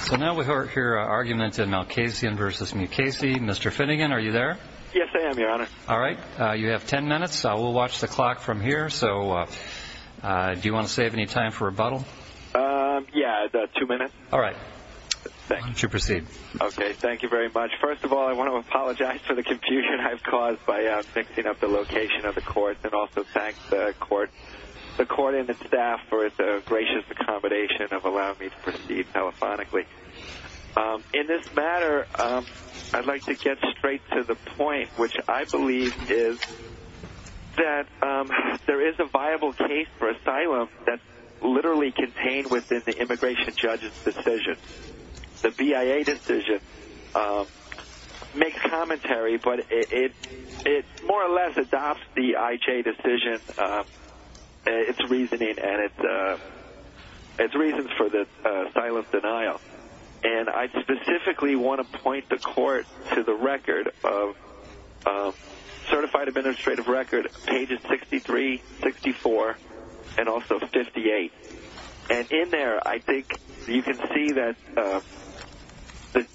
So now we hear arguments in Malkasian v. Mukasey. Mr. Finnegan, are you there? Yes, I am, Your Honor. All right. You have ten minutes. We'll watch the clock from here. So do you want to save any time for rebuttal? Yeah, two minutes. All right. Thank you. You should proceed. Okay. Thank you very much. First of all, I want to apologize for the confusion I've caused by fixing up the location of the court and also thank the court and the staff for the gracious accommodation of allowing me to proceed telephonically. In this matter, I'd like to get straight to the point, which I believe is that there is a viable case for asylum that's literally contained within the immigration judge's decision. The BIA decision makes commentary, but it more or less adopts the IJ decision, its reasoning, and its reasons for the asylum denial. And I specifically want to point the court to the record of certified administrative record pages 63, 64, and also 58. And in there, I think you can see that,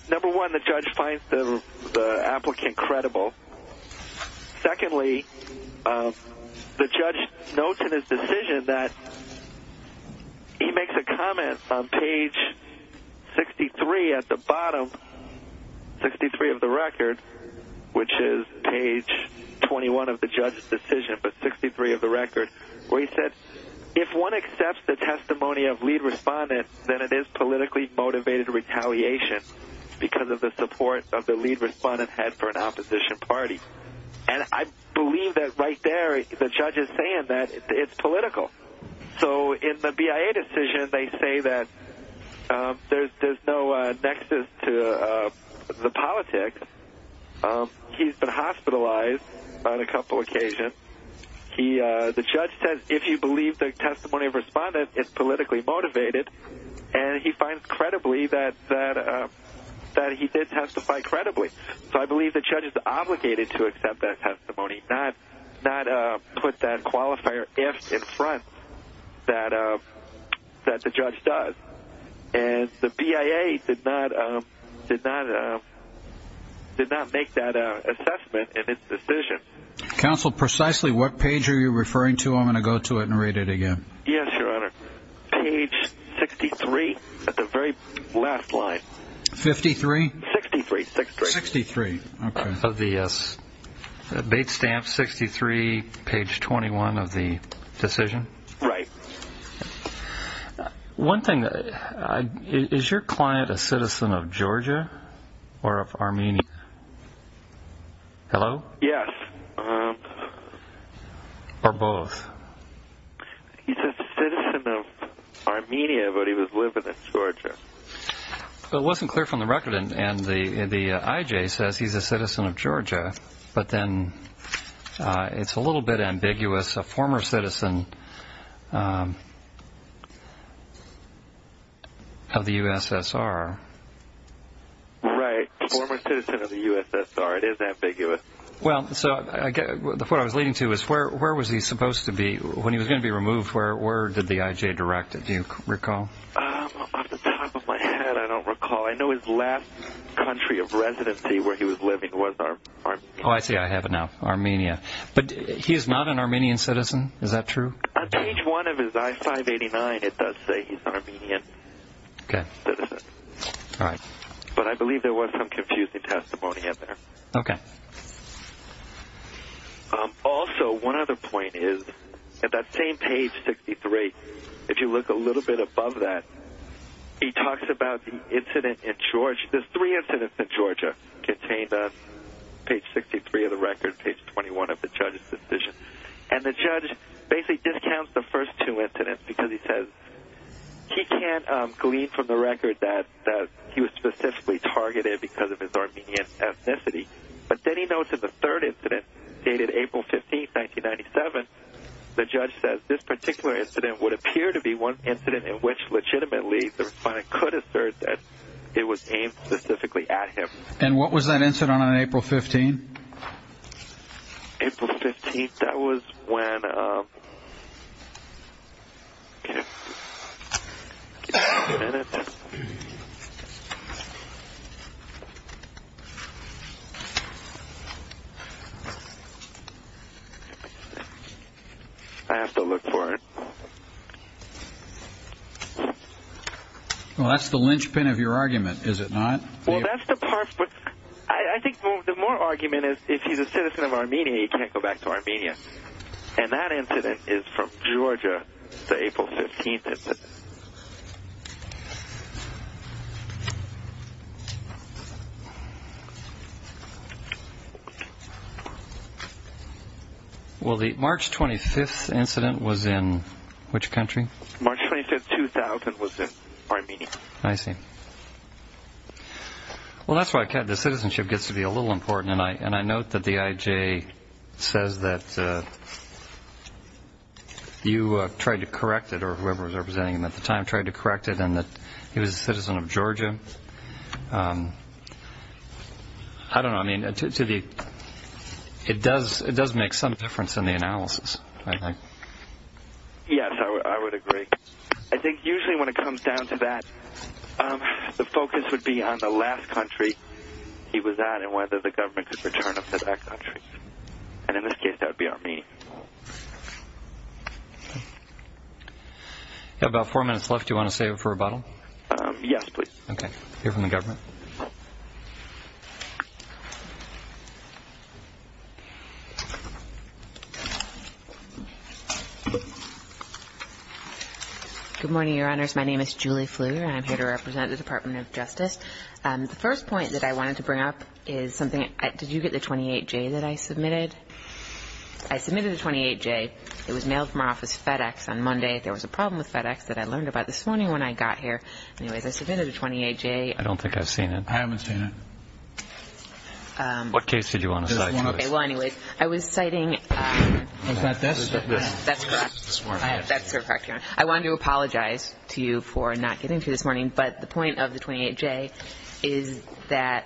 number one, the judge finds the applicant credible. Secondly, the judge notes in his decision that he makes a comment on page 63 at the bottom, 63 of the record, which is page 21 of the judge's decision, but 63 of the record, where he said, if one accepts the testimony of lead respondent, then it is politically motivated retaliation because of the support of the lead respondent head for an opposition party. And I believe that right there, the judge is saying that it's political. So in the BIA decision, they say that there's no nexus to the politics. He's been hospitalized on a couple occasions. The judge says, if you believe the testimony of respondent, it's politically motivated. And he finds credibly that he did testify credibly. So I believe the judge is obligated to accept that testimony, not put that qualifier if in front that the judge does. And the BIA did not make that assessment in its decision. Counsel, precisely what page are you referring to? I'm going to go to it and read it again. Yes, Your Honor. Page 63 at the very last line. Fifty-three? Sixty-three. Sixty-three. Okay. Of the bait stamp, 63, page 21 of the decision. Right. One thing, is your client a citizen of Georgia or of Armenia? Hello? Yes. Or both? He's a citizen of Armenia, but he was living in Georgia. It wasn't clear from the record, and the IJ says he's a citizen of Georgia, but then it's a little bit ambiguous. A former citizen of the USSR. Right. A former citizen of the USSR. It is ambiguous. Well, so what I was leading to is where was he supposed to be when he was going to be removed? Where did the IJ direct it? Do you recall? Off the top of my head, I don't recall. I know his last country of residency where he was living was Armenia. Oh, I see. I have it now. Armenia. But he is not an Armenian citizen. Is that true? On page one of his I-589, it does say he's an Armenian citizen. Okay. But I believe there was some confusing testimony in there. Okay. Also, one other point is, at that same page, 63, if you look a little bit above that, he talks about the incident in Georgia. There's three incidents in Georgia contained on page 63 of the record, page 21 of the judge's decision. And the judge basically discounts the first two incidents because he says he can't glean from the record that he was specifically targeted because of his Armenian ethnicity. But then he notes in the third incident, dated April 15, 1997, the judge says this particular incident would appear to be one incident in which legitimately the respondent could assert that it was aimed specifically at him. And what was that incident on April 15? April 15, that was when ‑‑ I have to look for it. Well, that's the linchpin of your argument, is it not? Well, that's the part, but I think the more argument is if he's a citizen of Armenia, he can't go back to Armenia. And that incident is from Georgia, the April 15 incident. Well, the March 25 incident was in which country? March 25, 2000, was in Armenia. I see. Well, that's why the citizenship gets to be a little important. And I note that the IJ says that you tried to correct it, or whoever was representing him at the time tried to correct it, and that he was a citizen of Georgia. I don't know. I mean, it does make some difference in the analysis, I think. Yes, I would agree. I think usually when it comes down to that, the focus would be on the last country he was at and whether the government could return him to that country. And in this case, that would be Armenia. You have about four minutes left. Do you want to save it for rebuttal? Yes, please. Okay. Hear from the government. Good morning, Your Honors. My name is Julie Fleur, and I'm here to represent the Department of Justice. The first point that I wanted to bring up is something – did you get the 28J that I submitted? I submitted a 28J. It was mailed from our office FedEx on Monday. There was a problem with FedEx that I learned about this morning when I got here. Anyways, I submitted a 28J. I don't think I've seen it. I haven't seen it. What case did you want to cite? Okay, well, anyways, I was citing – Was that this? That's correct. That's correct, Your Honor. I wanted to apologize to you for not getting to it this morning, but the point of the 28J is that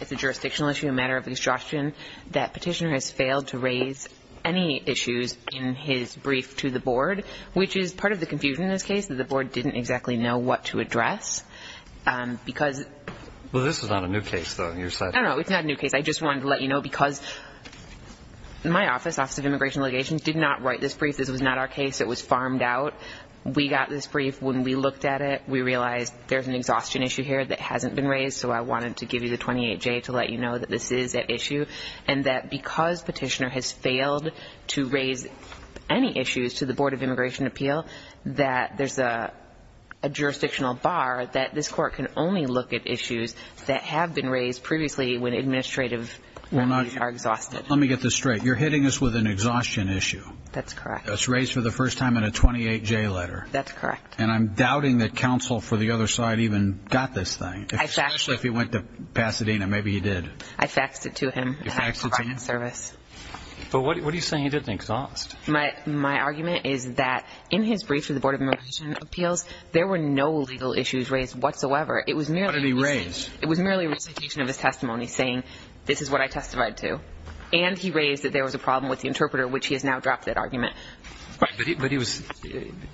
it's a jurisdictional issue, a matter of obstruction, that petitioner has failed to raise any issues in his brief to the board, which is part of the confusion in this case, that the board didn't exactly know what to address because – Well, this is not a new case, though. No, no, it's not a new case. I just wanted to let you know because my office, Office of Immigration Allegations, did not write this brief. This was not our case. It was farmed out. We got this brief. When we looked at it, we realized there's an exhaustion issue here that hasn't been raised, so I wanted to give you the 28J to let you know that this is an issue and that because petitioner has failed to raise any issues to the Board of Immigration Appeal, that there's a jurisdictional bar that this court can only look at issues that have been raised previously when administrative matters are exhausted. Let me get this straight. You're hitting us with an exhaustion issue. That's correct. That's raised for the first time in a 28J letter. That's correct. And I'm doubting that counsel for the other side even got this thing, especially if he went to Pasadena. Maybe he did. I faxed it to him. You faxed it to him? I had providing service. But what are you saying he didn't exhaust? My argument is that in his brief for the Board of Immigration Appeals, there were no legal issues raised whatsoever. What did he raise? It was merely a recitation of his testimony saying this is what I testified to, and he raised that there was a problem with the interpreter, which he has now dropped that argument. But he was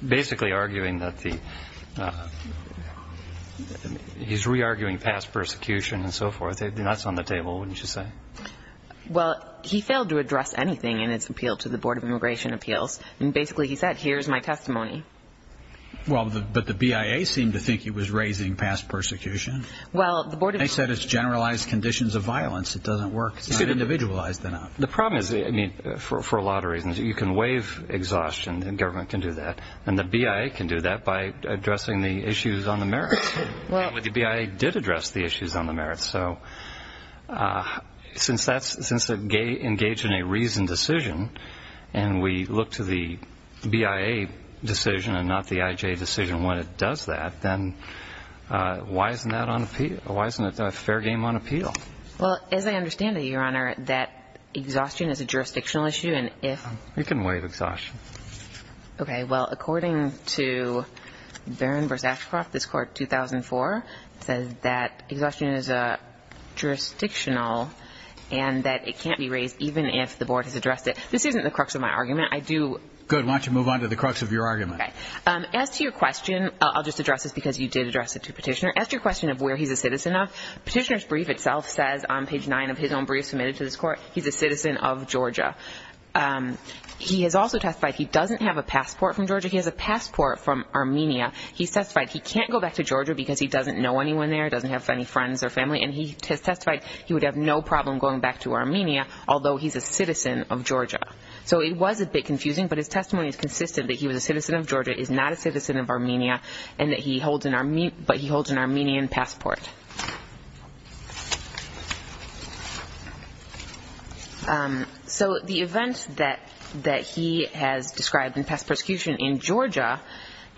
basically arguing that the he's re-arguing past persecution and so forth. That's on the table, wouldn't you say? Well, he failed to address anything in his appeal to the Board of Immigration Appeals, and basically he said, here's my testimony. Well, but the BIA seemed to think he was raising past persecution. They said it's generalized conditions of violence. It doesn't work. It's not individualized enough. The problem is, I mean, for a lot of reasons. You can waive exhaustion. The government can do that. And the BIA can do that by addressing the issues on the merits. The BIA did address the issues on the merits. So since they engage in a reasoned decision and we look to the BIA decision and not the IJ decision when it does that, then why isn't that on appeal? Why isn't a fair game on appeal? Well, as I understand it, Your Honor, that exhaustion is a jurisdictional issue. You can waive exhaustion. Okay. Well, according to Barron v. Ashcroft, this Court, 2004, says that exhaustion is jurisdictional and that it can't be raised even if the Board has addressed it. This isn't the crux of my argument. Good. Why don't you move on to the crux of your argument. Okay. As to your question, I'll just address this because you did address it to Petitioner. As to your question of where he's a citizen of, Petitioner's brief itself says on page 9 of his own brief submitted to this Court, he's a citizen of Georgia. He has also testified he doesn't have a passport from Georgia. He has a passport from Armenia. He's testified he can't go back to Georgia because he doesn't know anyone there, doesn't have any friends or family. And he has testified he would have no problem going back to Armenia, although he's a citizen of Georgia. but his testimony is consistent that he was a citizen of Georgia, is not a citizen of Armenia, but he holds an Armenian passport. So the events that he has described in past persecution in Georgia,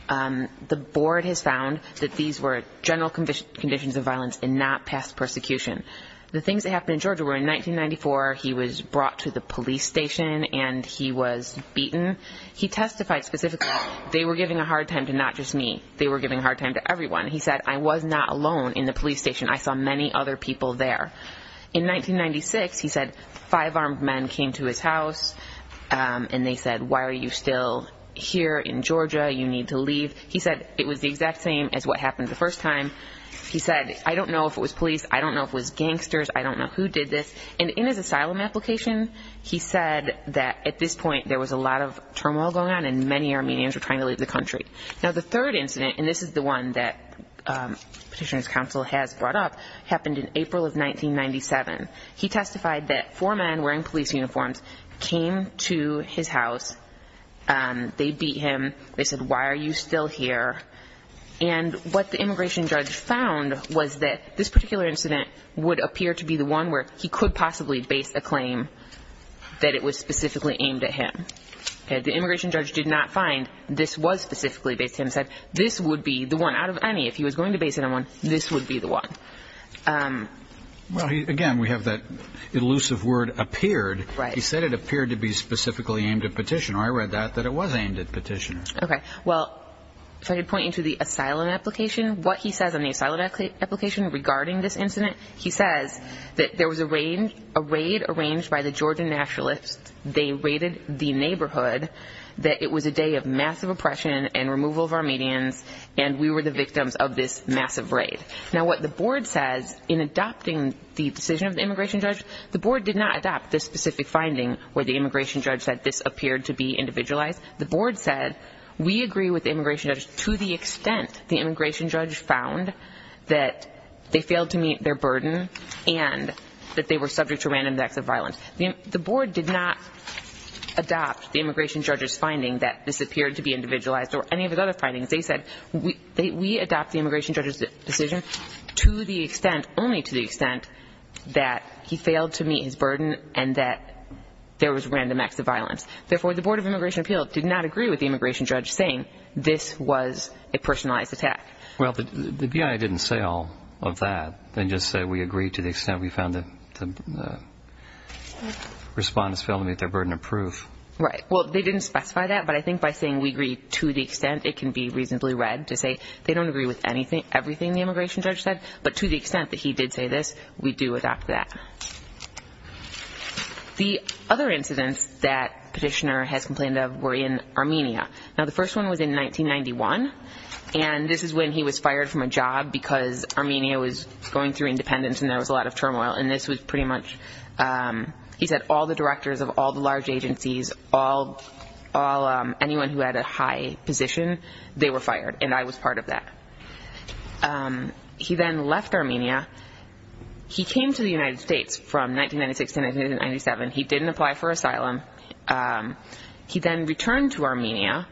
the Board has found that these were general conditions of violence and not past persecution. The things that happened in Georgia were in 1994 he was brought to the police station and he was beaten. He testified specifically they were giving a hard time to not just me, they were giving a hard time to everyone. He said, I was not alone in the police station. I saw many other people there. In 1996 he said five armed men came to his house and they said, why are you still here in Georgia? You need to leave. He said it was the exact same as what happened the first time. He said, I don't know if it was police. I don't know if it was gangsters. I don't know who did this. And in his asylum application he said that at this point there was a lot of turmoil going on and many Armenians were trying to leave the country. Now the third incident, and this is the one that Petitioner's Council has brought up, happened in April of 1997. He testified that four men wearing police uniforms came to his house. They beat him. They said, why are you still here? And what the immigration judge found was that this particular incident would appear to be the one where he could possibly base a claim that it was specifically aimed at him. The immigration judge did not find this was specifically based on him. He said this would be the one out of any, if he was going to base it on one, this would be the one. Again, we have that elusive word appeared. He said it appeared to be specifically aimed at Petitioner. I read that, that it was aimed at Petitioner. Well, if I could point you to the asylum application, what he says on the asylum application regarding this incident, he says that there was a raid arranged by the Georgian nationalists. They raided the neighborhood, that it was a day of massive oppression and removal of Armenians, and we were the victims of this massive raid. Now what the board says in adopting the decision of the immigration judge, the board did not adopt this specific finding where the immigration judge said this appeared to be individualized. The board said we agree with the immigration judge to the extent the immigration judge found that they failed to meet their burden and that they were subject to random acts of violence. The board did not adopt the immigration judge's finding that this appeared to be individualized or any of his other findings. They said we adopt the immigration judge's decision to the extent, only to the extent that he failed to meet his burden and that there was random acts of violence. Therefore, the Board of Immigration Appeals did not agree with the immigration judge saying this was a personalized attack. Well, the BIA didn't say all of that. They just said we agree to the extent we found the respondents failed to meet their burden of proof. Right. Well, they didn't specify that, but I think by saying we agree to the extent, it can be reasonably read to say they don't agree with everything the immigration judge said, but to the extent that he did say this, we do adopt that. The other incidents that Petitioner has complained of were in Armenia. Now, the first one was in 1991, and this is when he was fired from a job because Armenia was going through independence and there was a lot of turmoil, and this was pretty much he said all the directors of all the large agencies, anyone who had a high position, they were fired, and I was part of that. He then left Armenia. He came to the United States from 1996 to 1997. He didn't apply for asylum. He then returned to Armenia,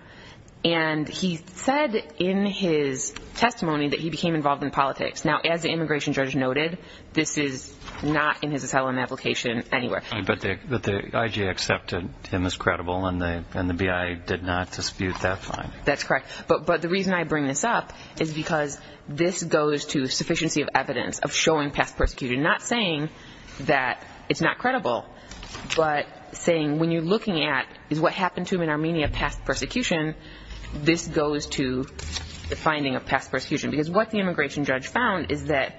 and he said in his testimony that he became involved in politics. Now, as the immigration judge noted, this is not in his asylum application anywhere. But the IG accepted him as credible, and the BIA did not dispute that finding. That's correct. But the reason I bring this up is because this goes to sufficiency of evidence, of showing past persecution, not saying that it's not credible, but saying when you're looking at is what happened to him in Armenia past persecution, this goes to the finding of past persecution, because what the immigration judge found is that,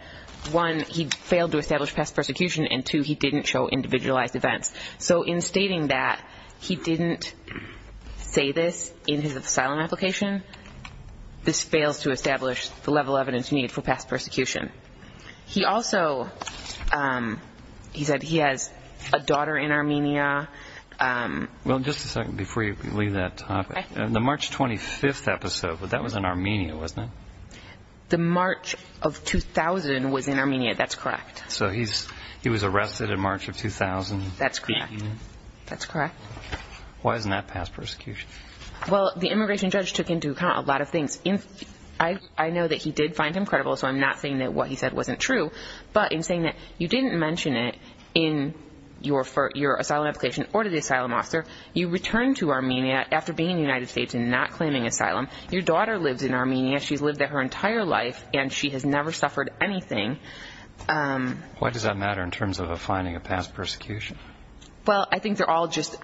one, he failed to establish past persecution, and two, he didn't show individualized events. So in stating that he didn't say this in his asylum application, this fails to establish the level of evidence needed for past persecution. He also said he has a daughter in Armenia. Well, just a second before you leave that topic. The March 25th episode, that was in Armenia, wasn't it? The March of 2000 was in Armenia. That's correct. So he was arrested in March of 2000. That's correct. Why isn't that past persecution? Well, the immigration judge took into account a lot of things. I know that he did find him credible, so I'm not saying that what he said wasn't true. But in saying that you didn't mention it in your asylum application or to the asylum officer, you returned to Armenia after being in the United States and not claiming asylum. Your daughter lives in Armenia. She's lived there her entire life, and she has never suffered anything. Why does that matter in terms of a finding of past persecution? Well, I think they're all just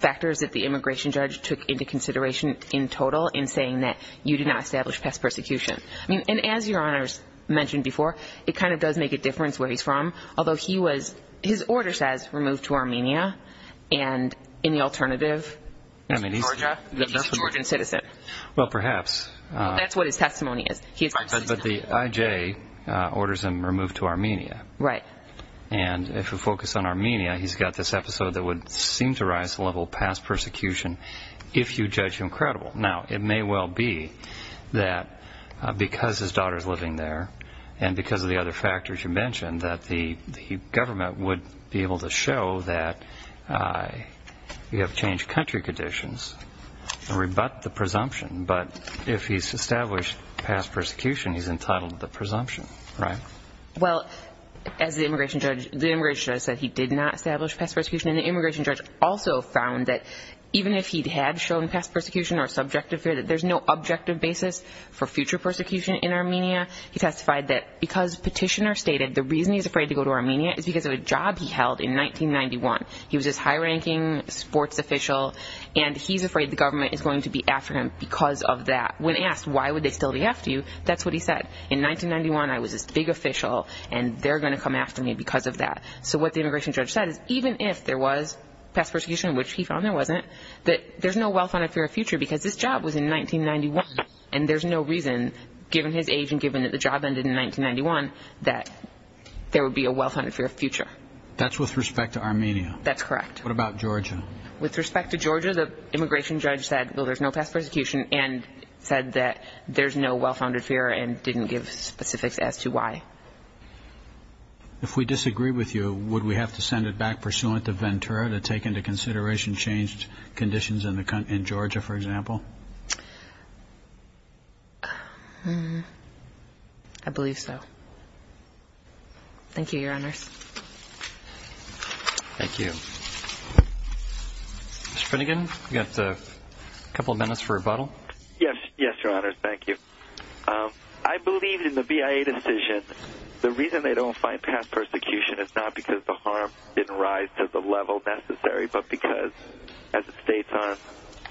factors that the immigration judge took into consideration in total in saying that you did not establish past persecution. And as Your Honors mentioned before, it kind of does make a difference where he's from, although his order says removed to Armenia, and in the alternative, Georgia, that he's a Georgian citizen. Well, perhaps. That's what his testimony is. But the IJ orders him removed to Armenia. Right. And if you focus on Armenia, he's got this episode that would seem to rise to the level of past persecution if you judge him credible. Now, it may well be that because his daughter is living there and because of the other factors you mentioned, that the government would be able to show that you have changed country conditions and rebut the presumption. But if he's established past persecution, he's entitled to the presumption. Right? Well, as the immigration judge said, he did not establish past persecution. And the immigration judge also found that even if he had shown past persecution or subjective fear, that there's no objective basis for future persecution in Armenia. He testified that because Petitioner stated the reason he's afraid to go to Armenia is because of a job he held in 1991. He was this high-ranking sports official, and he's afraid the government is going to be after him because of that. When asked why would they still be after you, that's what he said. In 1991, I was this big official, and they're going to come after me because of that. So what the immigration judge said is even if there was past persecution, which he found there wasn't, that there's no well-founded fear of future because this job was in 1991, and there's no reason, given his age and given that the job ended in 1991, that there would be a well-founded fear of future. That's with respect to Armenia. That's correct. What about Georgia? With respect to Georgia, the immigration judge said, well, there's no past persecution, and said that there's no well-founded fear and didn't give specifics as to why. If we disagree with you, would we have to send it back pursuant to Ventura to take into consideration changed conditions in Georgia, for example? I believe so. Thank you, Your Honors. Thank you. Mr. Finnegan, you've got a couple of minutes for rebuttal. Yes, Your Honors. Thank you. I believe in the BIA decision, the reason they don't find past persecution is not because the harm didn't rise to the level necessary, but because, as it states on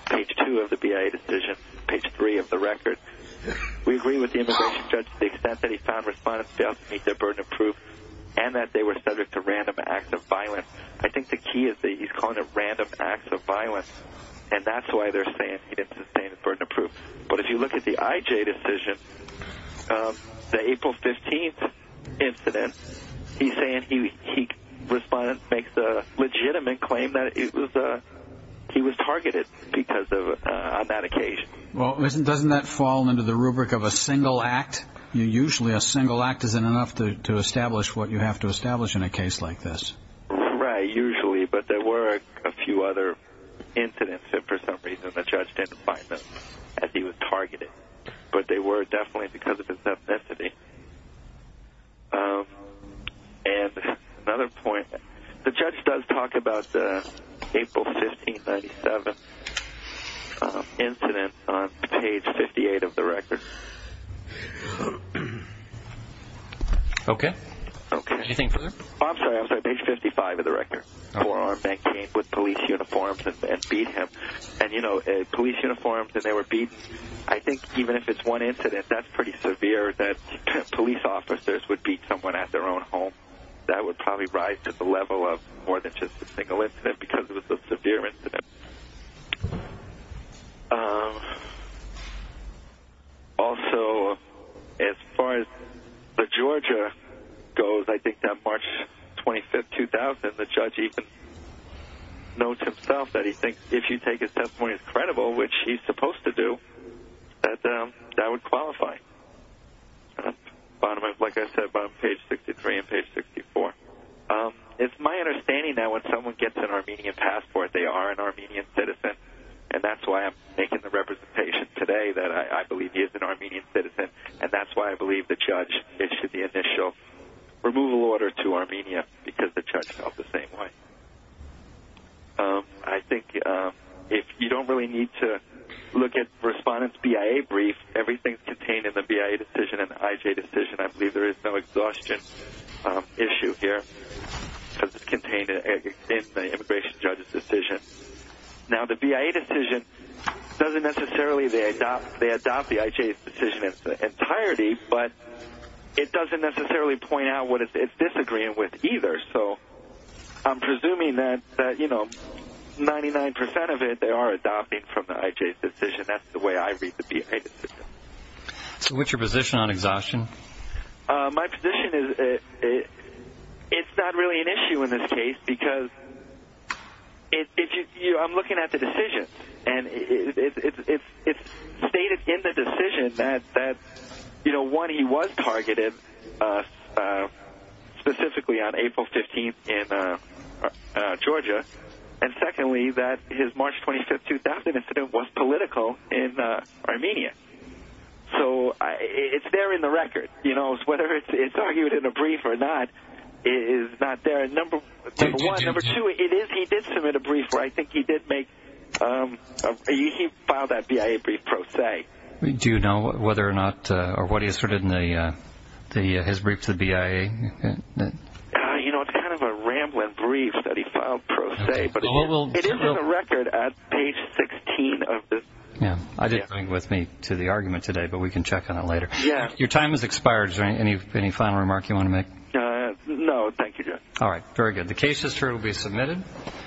page 2 of the BIA decision, page 3 of the record, we agree with the immigration judge to the extent that he found respondents failed to meet their burden of proof and that they were subject to random acts of violence. I think the key is that he's calling it random acts of violence, and that's why they're saying he didn't sustain the burden of proof. But if you look at the IJ decision, the April 15th incident, he's saying he makes a legitimate claim that he was targeted on that occasion. Well, doesn't that fall under the rubric of a single act? Usually a single act isn't enough to establish what you have to establish in a case like this. Right, usually, but there were a few other incidents that, for some reason, the judge didn't find them as he was targeted, but they were definitely because of his ethnicity. And another point, the judge does talk about the April 15, 1997 incident on page 58 of the record. Okay. Anything further? I'm sorry, I'm sorry, page 55 of the record. Four armed men came with police uniforms and beat him. And, you know, police uniforms and they were beaten. I think even if it's one incident, that's pretty severe that police officers would beat someone at their own home. That would probably rise to the level of more than just a single incident because it was a severe incident. Also, as far as the Georgia goes, I think that March 25, 2000, the judge even notes himself that he thinks if you take his testimony as credible, which he's supposed to do, that that would qualify. Like I said, bottom of page 63 and page 64. It's my understanding that when someone gets an Armenian passport, they are an Armenian citizen, and that's why I'm making the representation today that I believe he is an Armenian citizen, and that's why I believe the judge issued the initial removal order to Armenia because the judge felt the same way. I think if you don't really need to look at Respondent's BIA brief, everything's contained in the BIA decision and the IJ decision, I believe there is no exhaustion issue here because it's contained in the immigration judge's decision. Now, the BIA decision doesn't necessarily, they adopt the IJ's decision in its entirety, but it doesn't necessarily point out what it's disagreeing with either. So I'm presuming that, you know, 99% of it they are adopting from the IJ's decision. That's the way I read the BIA decision. So what's your position on exhaustion? My position is it's not really an issue in this case because I'm looking at the decision, and it's stated in the decision that, you know, one, he was targeted specifically on April 15th in Georgia, and secondly, that his March 25th, 2000 incident was political in Armenia. So it's there in the record, you know, whether it's argued in a brief or not, it is not there. Number one, number two, it is, he did submit a brief where I think he did make, he filed that BIA brief pro se. Do you know whether or not, or what he asserted in his brief to the BIA? You know, it's kind of a rambling brief that he filed pro se, but it is in the record at page 16. I didn't bring it with me to the argument today, but we can check on it later. Your time has expired. Is there any final remark you want to make? No, thank you, Judge. All right, very good. The case is through. It will be submitted.